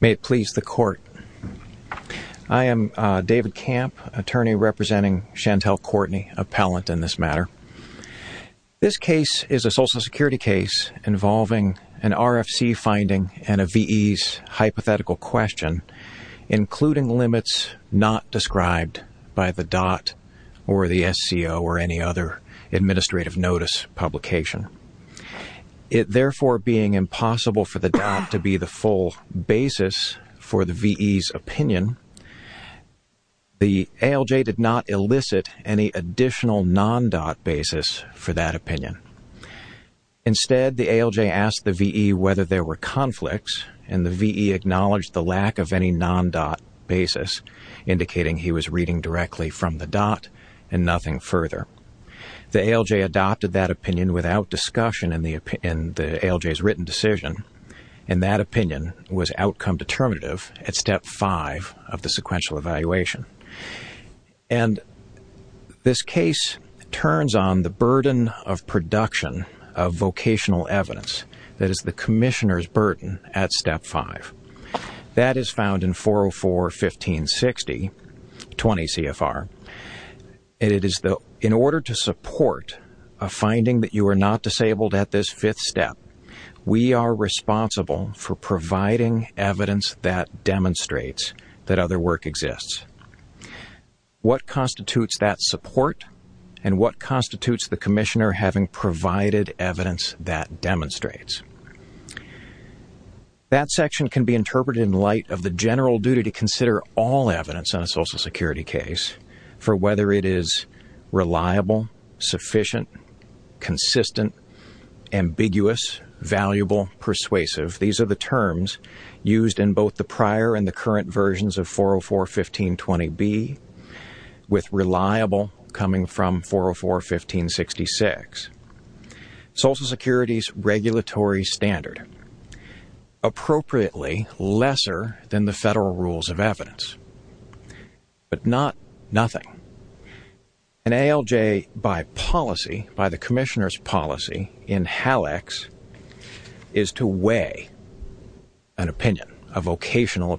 May it please the court, I am David Camp, attorney representing Chantel Courtney, appellant in this matter. This case is a social security case involving an RFC finding and a VE's hypothetical question including limits not described by the DOT or the SCO or any other administrative notice publication. It therefore being impossible for the DOT to be the full basis for the VE's opinion, the ALJ did not elicit any additional non-DOT basis for that and the VE acknowledged the lack of any non-DOT basis indicating he was reading directly from the DOT and nothing further. The ALJ adopted that opinion without discussion in the ALJ's written decision and that opinion was outcome determinative at step 5 of the sequential evaluation. And this case turns on the burden of production of vocational evidence that is the Commissioner's burden at step 5. That is found in 404.15.60.20 CFR. In order to support a finding that you are not disabled at this fifth step we are responsible for providing evidence that demonstrates that other work exists. What constitutes that support and what constitutes the Commissioner having provided evidence that demonstrates. That section can be interpreted in light of the general duty to consider all evidence on a Social Security case for whether it is reliable, sufficient, consistent, ambiguous, valuable, persuasive. These are the terms used in both the prior and the current versions of 404.15.20B with reliable coming from 404.15.66. Social Security's regulatory standard appropriately lesser than the federal rules of evidence but not nothing. An ALJ by policy, by the Commissioner's policy in HALEX is to weigh an opinion, a vocational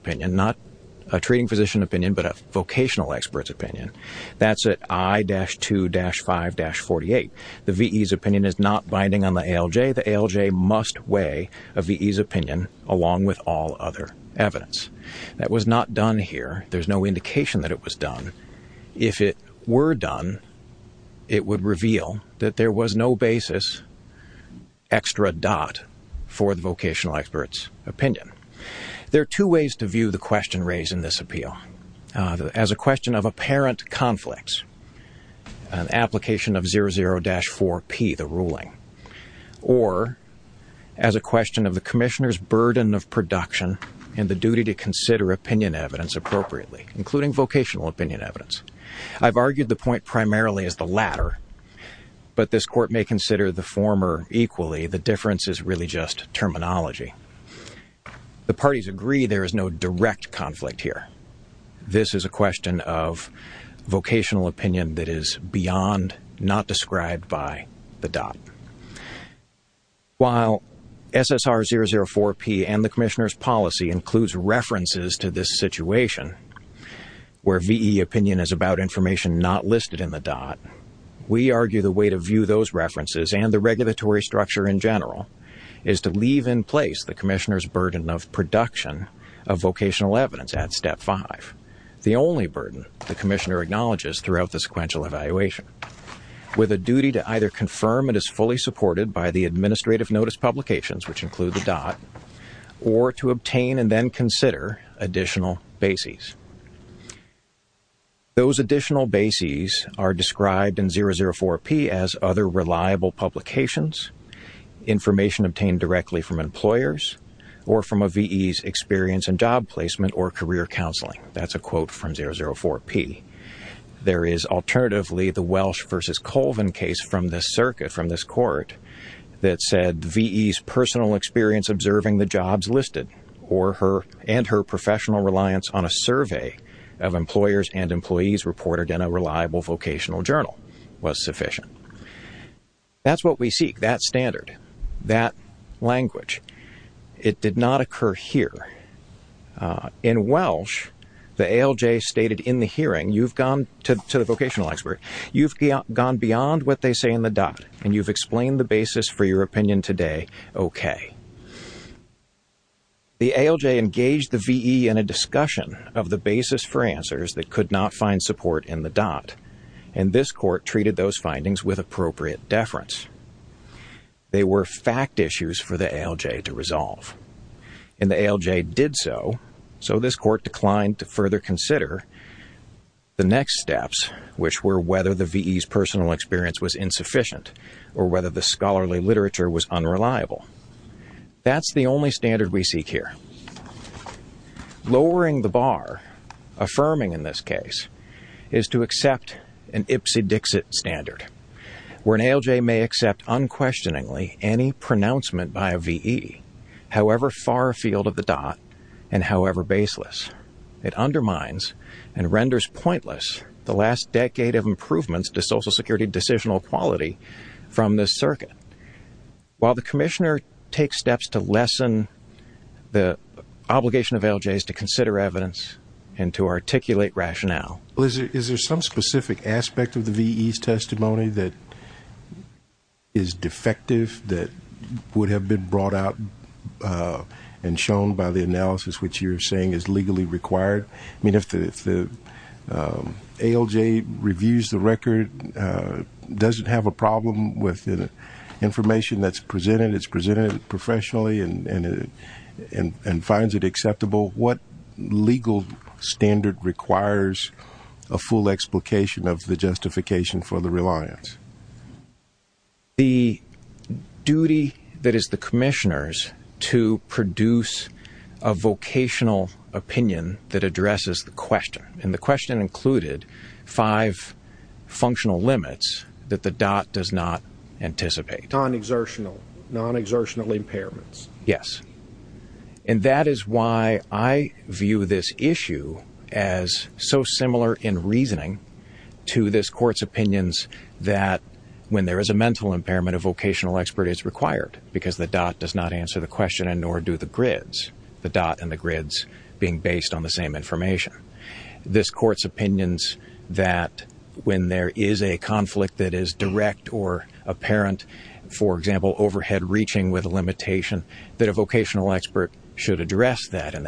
expert's opinion. That's at I-2-5-48. The VE's opinion is not binding on the ALJ. The ALJ must weigh a VE's opinion along with all other evidence. That was not done here. There's no indication that it was done. If it were done it would reveal that there was no basis extra dot for the vocational expert's opinion. There are two ways to view the question raised in this appeal. As a question of apparent conflicts, an application of 00-4P, the ruling, or as a question of the Commissioner's burden of production and the duty to consider opinion evidence appropriately, including vocational opinion evidence. I've argued the point primarily as the latter but this court may consider the former equally. The difference is really just terminology. The parties agree there is no direct conflict here. This is a question of vocational opinion that is beyond not described by the dot. While SSR 00-4P and the Commissioner's policy includes references to this situation where VE opinion is about information not listed in the dot, we argue the way to view those references and the regulatory structure in general is to leave in place the Commissioner's burden of production of vocational evidence at step 5. The only burden the Commissioner acknowledges throughout the sequential evaluation with a duty to either confirm it is fully supported by the administrative notice publications which include the dot or to obtain and then consider additional bases. Those information obtained directly from employers or from a VE's experience and job placement or career counseling. That's a quote from 00-4P. There is alternatively the Welsh v. Colvin case from this circuit, from this court, that said VE's personal experience observing the jobs listed or her and her professional reliance on a survey of employers and employees reported in a That's what we seek, that standard, that language. It did not occur here. In Welsh, the ALJ stated in the hearing, you've gone, to the vocational expert, you've gone beyond what they say in the dot and you've explained the basis for your opinion today okay. The ALJ engaged the VE in a discussion of the basis for answers that could not find support in the dot and this court treated those deference. They were fact issues for the ALJ to resolve and the ALJ did so, so this court declined to further consider the next steps which were whether the VE's personal experience was insufficient or whether the scholarly literature was unreliable. That's the only standard we seek here. Lowering the ALJ may accept unquestioningly any pronouncement by a VE, however far afield of the dot and however baseless. It undermines and renders pointless the last decade of improvements to Social Security decisional quality from this circuit. While the Commissioner takes steps to lessen the obligation of ALJs to consider evidence and to articulate rationale. Is there some specific aspect of the VE's testimony that is defective, that would have been brought out and shown by the analysis which you're saying is legally required? I mean if the ALJ reviews the record, doesn't have a problem with the information that's presented, it's presented professionally and finds it acceptable, what justification for the reliance? The duty that is the Commissioner's to produce a vocational opinion that addresses the question and the question included five functional limits that the dot does not anticipate. Non-exertional, non-exertional impairments. Yes, and that is why I view this issue as so similar in reasoning to this court's opinions that when there is a mental impairment, a vocational expert is required because the dot does not answer the question and nor do the grids. The dot and the grids being based on the same information. This court's opinions that when there is a conflict that is direct or apparent, for example, overhead reaching with a limitation, that a vocational expert should address that and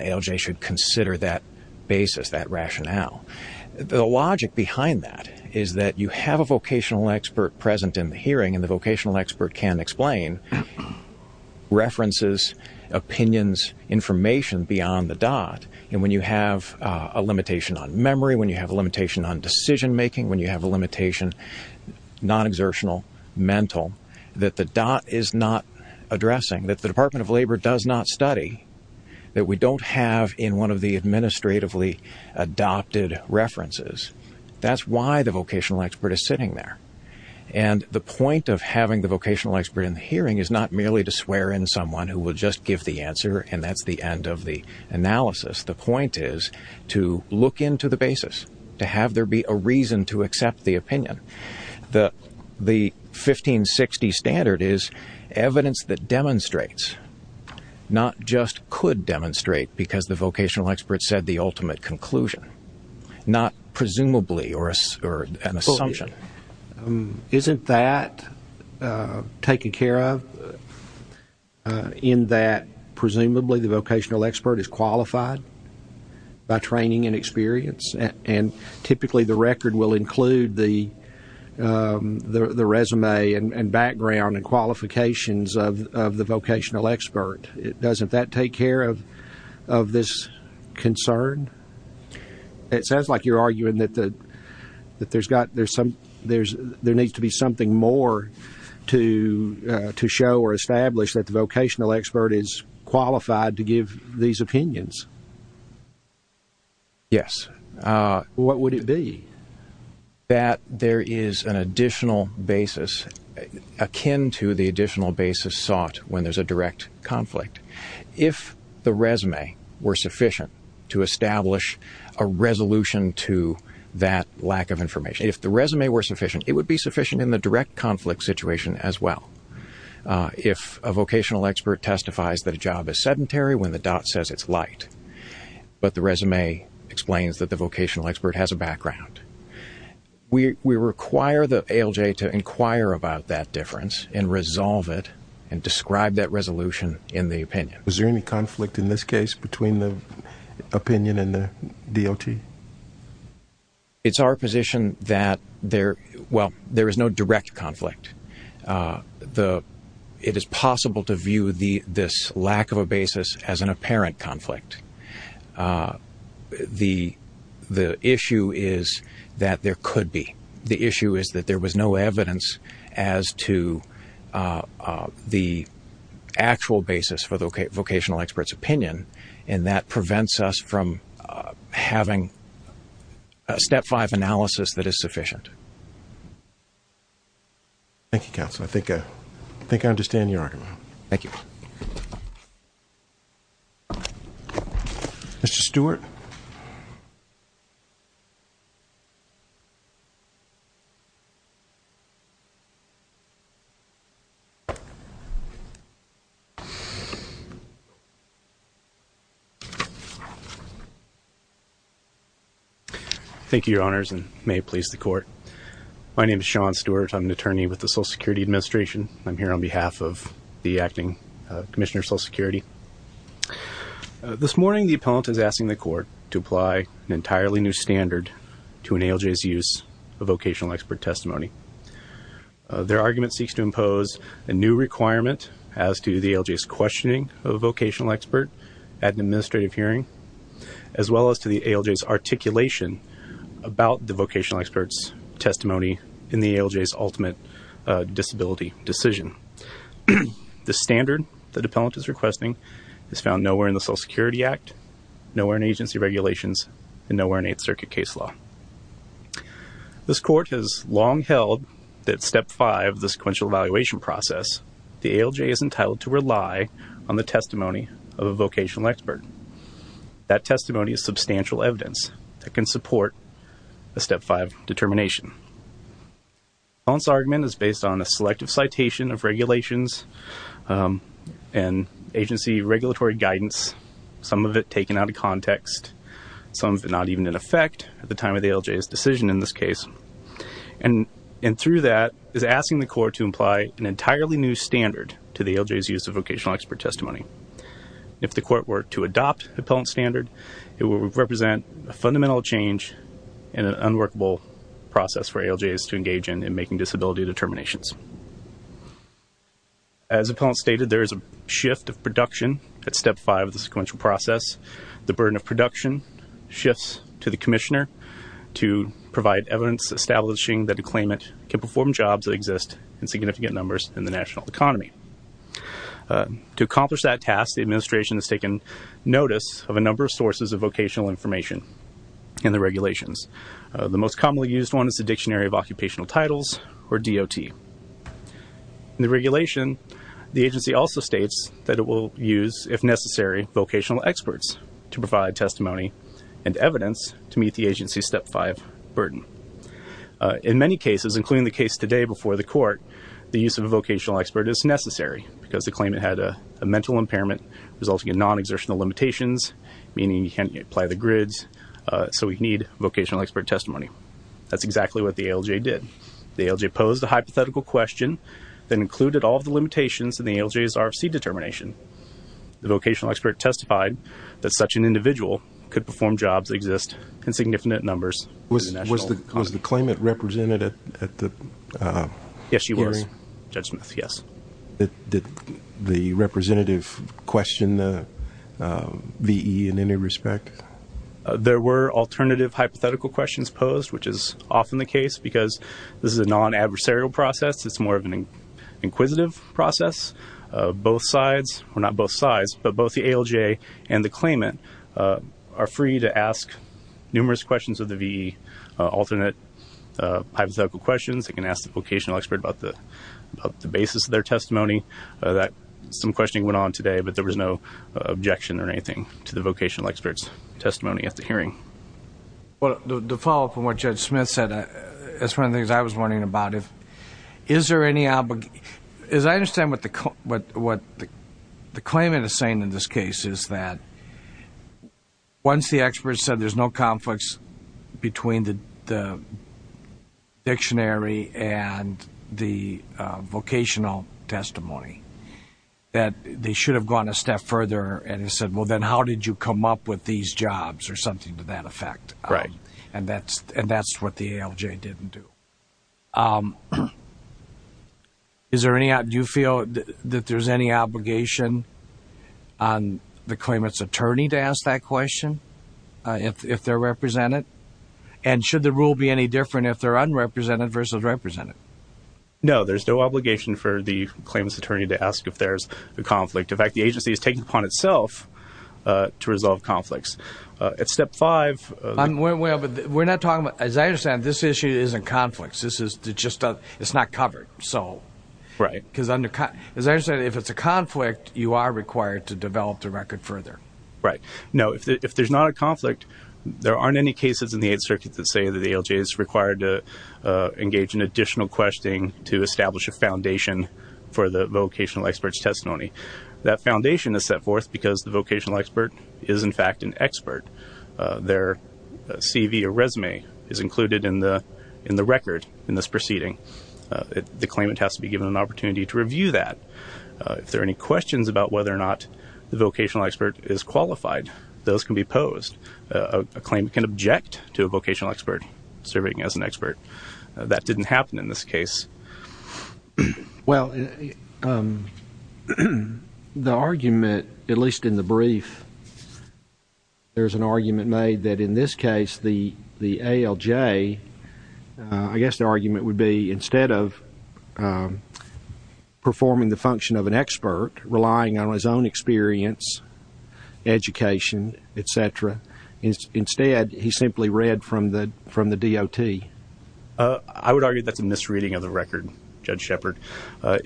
the logic behind that is that you have a vocational expert present in the hearing and the vocational expert can explain references, opinions, information beyond the dot and when you have a limitation on memory, when you have a limitation on decision-making, when you have a limitation, non-exertional, mental, that the dot is not addressing, that the Department of Labor does not study, that we don't have in one of the administratively adopted references. That's why the vocational expert is sitting there and the point of having the vocational expert in the hearing is not merely to swear in someone who will just give the answer and that's the end of the analysis. The point is to look into the basis, to have there be a reason to accept the opinion. The 1560 standard is evidence that demonstrates, not just could demonstrate because the vocational expert said the ultimate conclusion, not presumably or an assumption. Isn't that taken care of in that presumably the vocational expert is qualified by training and experience and typically the record will include the resume and background and qualifications of the vocational expert. Doesn't that take care of this concern? It sounds like you're arguing that there needs to be something more to show or establish that the vocational expert is qualified to give these opinions. Yes. What would it be? That there is an additional basis akin to the additional basis sought when there's a direct conflict. If the resume were sufficient to establish a resolution to that lack of information, if the resume were sufficient, it would be sufficient in the direct conflict situation as well. If a vocational expert testifies that a job is sedentary when the dot says it's light, but the resume explains that the vocational expert has a background. We require the ALJ to inquire about that difference and resolve it and describe that resolution in the opinion. Is there any conflict in this case between the opinion and the DOT? It's our position that there, well, there is no direct conflict. It is possible to view this lack of a basis as an apparent conflict. The issue is that there could be. The issue is that there was no evidence as to the actual basis for the vocational expert's opinion and that prevents us from having a step five analysis that is sufficient. Thank you, Mr. Stewart. Thank you, your honors, and may it please the court. My name is Sean Stewart. I'm an attorney with the Social Security Administration. I'm here on behalf of the This morning, the appellant is asking the court to apply an entirely new standard to an ALJ's use of vocational expert testimony. Their argument seeks to impose a new requirement as to the ALJ's questioning of a vocational expert at an administrative hearing, as well as to the ALJ's articulation about the vocational expert's testimony in the ALJ's ultimate disability decision. The Act, Nowhere in Agency regulations, and Nowhere in Eighth Circuit case law. This court has long held that step five of the sequential evaluation process, the ALJ is entitled to rely on the testimony of a vocational expert. That testimony is substantial evidence that can support a step five determination. The appellant's argument is based on a selective citation of regulations and agency regulatory guidance, some of it taken out of context, some of it not even in effect at the time of the ALJ's decision in this case. And through that, is asking the court to apply an entirely new standard to the ALJ's use of vocational expert testimony. If the court were to adopt appellant standard, it would represent a fundamental change in an unworkable process for ALJs to engage in in making disability determinations. As appellant stated, there is a shift of production at step five of the sequential process. The burden of production shifts to the commissioner to provide evidence establishing that the claimant can perform jobs that exist in significant numbers in the national economy. To accomplish that task, the administration has taken notice of a number of sources of vocational information in the regulations. The most commonly used one is the Dictionary of Occupational Titles, or DOT. In the regulation, the agency also states that it will use, if necessary, vocational experts to provide testimony and evidence to meet the agency's step five burden. In many cases, including the case today before the court, the use of a vocational expert is necessary because the claimant had a mental impairment resulting in non-exertional limitations, meaning you can't apply the grids, so we need vocational expert testimony. That's exactly what the ALJ did. The ALJ posed a hypothetical question that included all the limitations in the ALJ's RFC determination. The vocational expert testified that such an individual could perform jobs that exist in significant numbers. Was the claimant represented at the hearing? Yes, she was. Judge Smith, yes. Did the representative question the VE in any respect? There were alternative hypothetical questions posed, which is often the case because this is a non-adversarial process. It's more of an inquisitive process. Both sides, or not both sides, but both the ALJ and the claimant are free to ask numerous questions of the VE, alternate hypothetical questions. They can ask the vocational expert about the basis of their testimony. Some questioning went on today, but there was no objection or anything to the vocational expert's hearing. Well, to follow up on what Judge Smith said, that's one of the things I was wondering about. Is there any, as I understand what the claimant is saying in this case, is that once the expert said there's no conflicts between the dictionary and the vocational testimony, that they should have gone a step further and said, well, then how did you come up with these jobs or something to that effect? Right. And that's what the ALJ didn't do. Is there any, do you feel that there's any obligation on the claimant's attorney to ask that question, if they're represented? And should the rule be any different if they're unrepresented versus represented? No, there's no obligation for the claimant's attorney to ask if there's a conflict. In itself, to resolve conflicts. At step five... We're not talking about, as I understand, this issue isn't conflicts. This is just, it's not covered. Right. Because, as I understand, if it's a conflict, you are required to develop the record further. Right. No, if there's not a conflict, there aren't any cases in the Eighth Circuit that say that the ALJ is required to engage in additional That foundation is set forth because the vocational expert is, in fact, an expert. Their CV or resume is included in the record in this proceeding. The claimant has to be given an opportunity to review that. If there are any questions about whether or not the vocational expert is qualified, those can be posed. A claimant can object to a vocational expert serving as an expert. That didn't happen in this case. Well, the argument, at least in the brief, there's an argument made that in this case, the ALJ, I guess the argument would be, instead of performing the function of an expert, relying on his own I would argue that's a misreading of the record, Judge Shepard.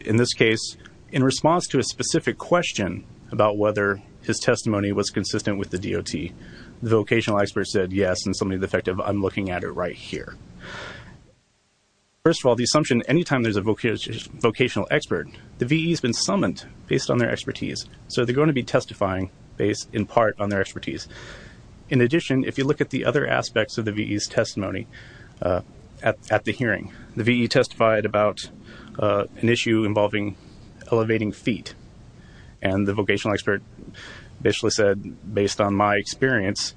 In this case, in response to a specific question about whether his testimony was consistent with the DOT, the vocational expert said, yes, and so maybe the fact of, I'm looking at it right here. First of all, the assumption, anytime there's a vocational expert, the VE has been summoned based on their expertise. So they're going to be testifying based, in part, on their expertise. In addition, if you look at the other aspects of the VE's testimony at the hearing, the VE testified about an issue involving elevating feet, and the vocational expert basically said, based on my experience,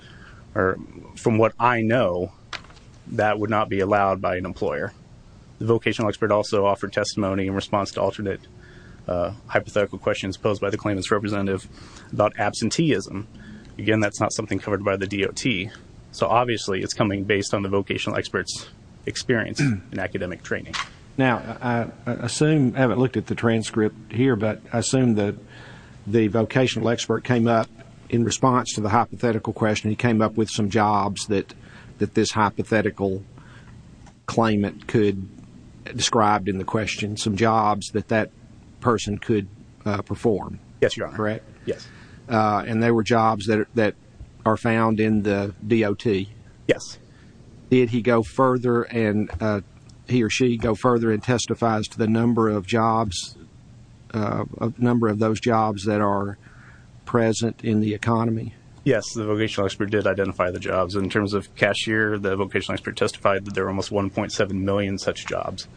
or from what I know, that would not be allowed by an employer. The vocational expert also offered testimony in response to alternate hypothetical questions posed by the claimant's representative about absenteeism. Again, that's not something covered by the DOT, so obviously it's coming based on the vocational expert's experience in academic training. Now, I assume, I haven't looked at the transcript here, but I assume that the vocational expert came up, in response to the hypothetical question, he came up with some jobs that that this hypothetical claimant could, described in the question, some jobs that that person could perform. Yes, you are correct. Yes. And they were jobs that are found in the DOT. Yes. Did he go further, and he or she go further, and testifies to the number of jobs, a number of those jobs that are present in the economy? Yes, the vocational expert did identify the jobs. In terms of cashier, the vocational expert testified that there are almost 1.7 million such jobs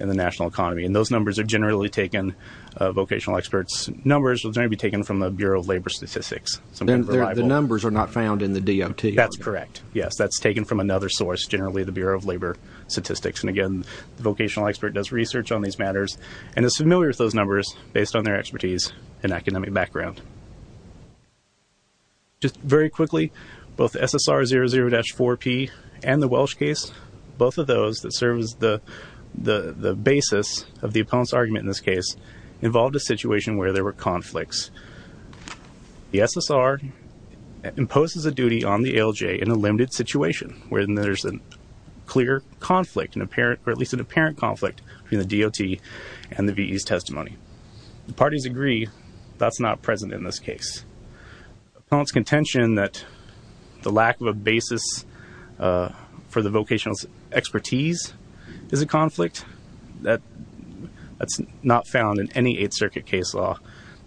in the national economy, and those vocational experts' numbers will generally be taken from the Bureau of Labor Statistics. The numbers are not found in the DOT? That's correct. Yes, that's taken from another source, generally the Bureau of Labor Statistics. And again, the vocational expert does research on these matters, and is familiar with those numbers, based on their expertise and academic background. Just very quickly, both SSR 00-4P and the Welsh case, both of those that serve as the the the basis of the appellant's argument in this case, involved a situation where there were conflicts. The SSR imposes a duty on the ALJ in a limited situation, where there's a clear conflict, or at least an apparent conflict, between the DOT and the VE's testimony. The parties agree that's not present in this case. Appellant's contention that the lack of a basis for the vocational expertise is a conflict, that's not found in any Eighth Circuit case law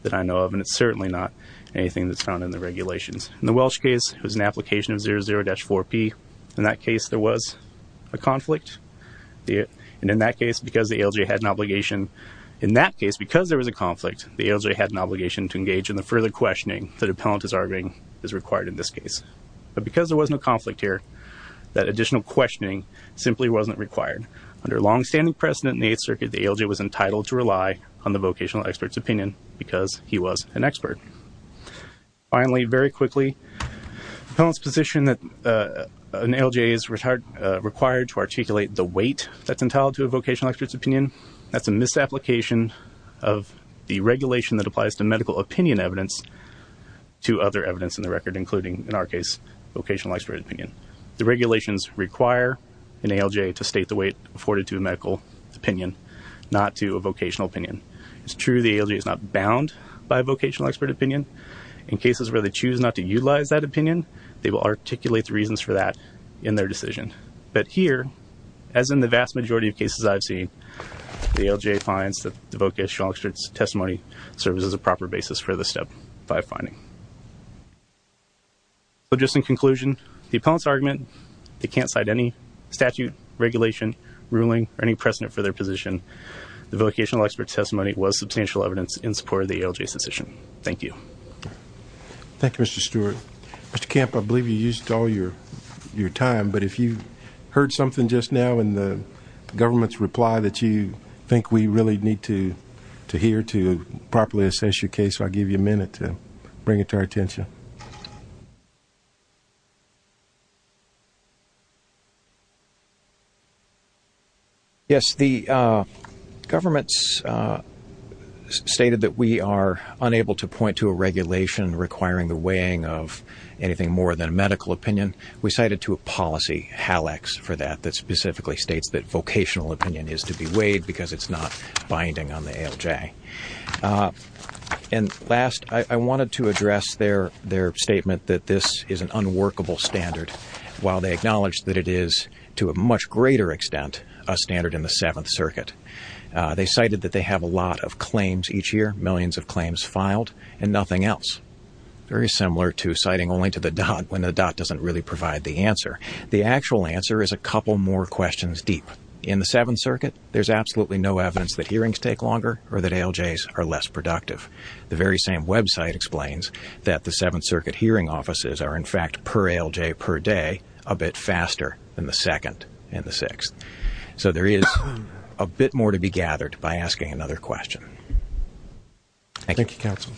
that I know of, and it's certainly not anything that's found in the regulations. In the Welsh case, it was an application of 00-4P. In that case, there was a conflict. And in that case, because the ALJ had an obligation, in that case, because there was a conflict, the ALJ had an obligation to engage in the further questioning the appellant is arguing is required in this case. But because there was no conflict here, that additional questioning simply wasn't required. Under long-standing precedent in the Eighth Circuit, the ALJ was entitled to rely on the vocational expert's opinion, because he was an expert. Finally, very quickly, the appellant's position that an ALJ is required to articulate the weight that's entitled to a vocational expert's opinion, that's a misapplication of the regulation that applies to medical opinion evidence to other evidence in the record, including, in our case, vocational expert opinion. The regulations require an ALJ to state the weight afforded to a medical opinion, not to a vocational opinion. It's true the ALJ is not bound by a vocational expert opinion. In cases where they choose not to utilize that opinion, they will articulate the reasons for that in their decision. But here, as in the vast majority of cases I've seen, the ALJ finds that the vocational expert's testimony serves as a proper basis for the Step 5 finding. So, just in conclusion, the appellant's argument, they can't cite any statute, regulation, ruling, or any precedent for their position. The vocational expert's testimony was substantial evidence in support of the ALJ's decision. Thank you. Thank you, Mr. Stewart. Mr. Camp, I believe you used all your time, but if you heard something just now in the government's reply that you think we really need to hear to properly assess your case, I'll give you a minute to bring it to our attention. Yes, the government's stated that we are unable to point to a regulation requiring the weighing of anything more than a medical opinion. We cited to a policy HALEX for that, that specifically states that vocational opinion is to be weighed because it's not binding on the ALJ. And last, I wanted to address their statement that this is an unworkable standard, while they acknowledge that it is, to a much greater extent, a standard in the Seventh Circuit. They cited that they have a lot of claims each year, millions of claims filed, and nothing else. Very similar to citing only to the DOT, when the DOT doesn't really provide the answer, the actual answer is a couple more questions deep. In the Seventh Circuit, there's absolutely no evidence that hearings take longer or that ALJs are less productive. The very same website explains that the Seventh Circuit hearing offices are, in fact, per ALJ per day a bit faster than the Second and the Sixth. So there is a bit more to be gathered by asking another question. Thank you, counsel.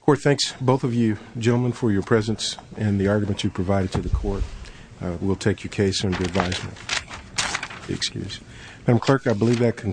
Court, thanks, both of you gentlemen, for your presence and the support. We'll take your case under advisement.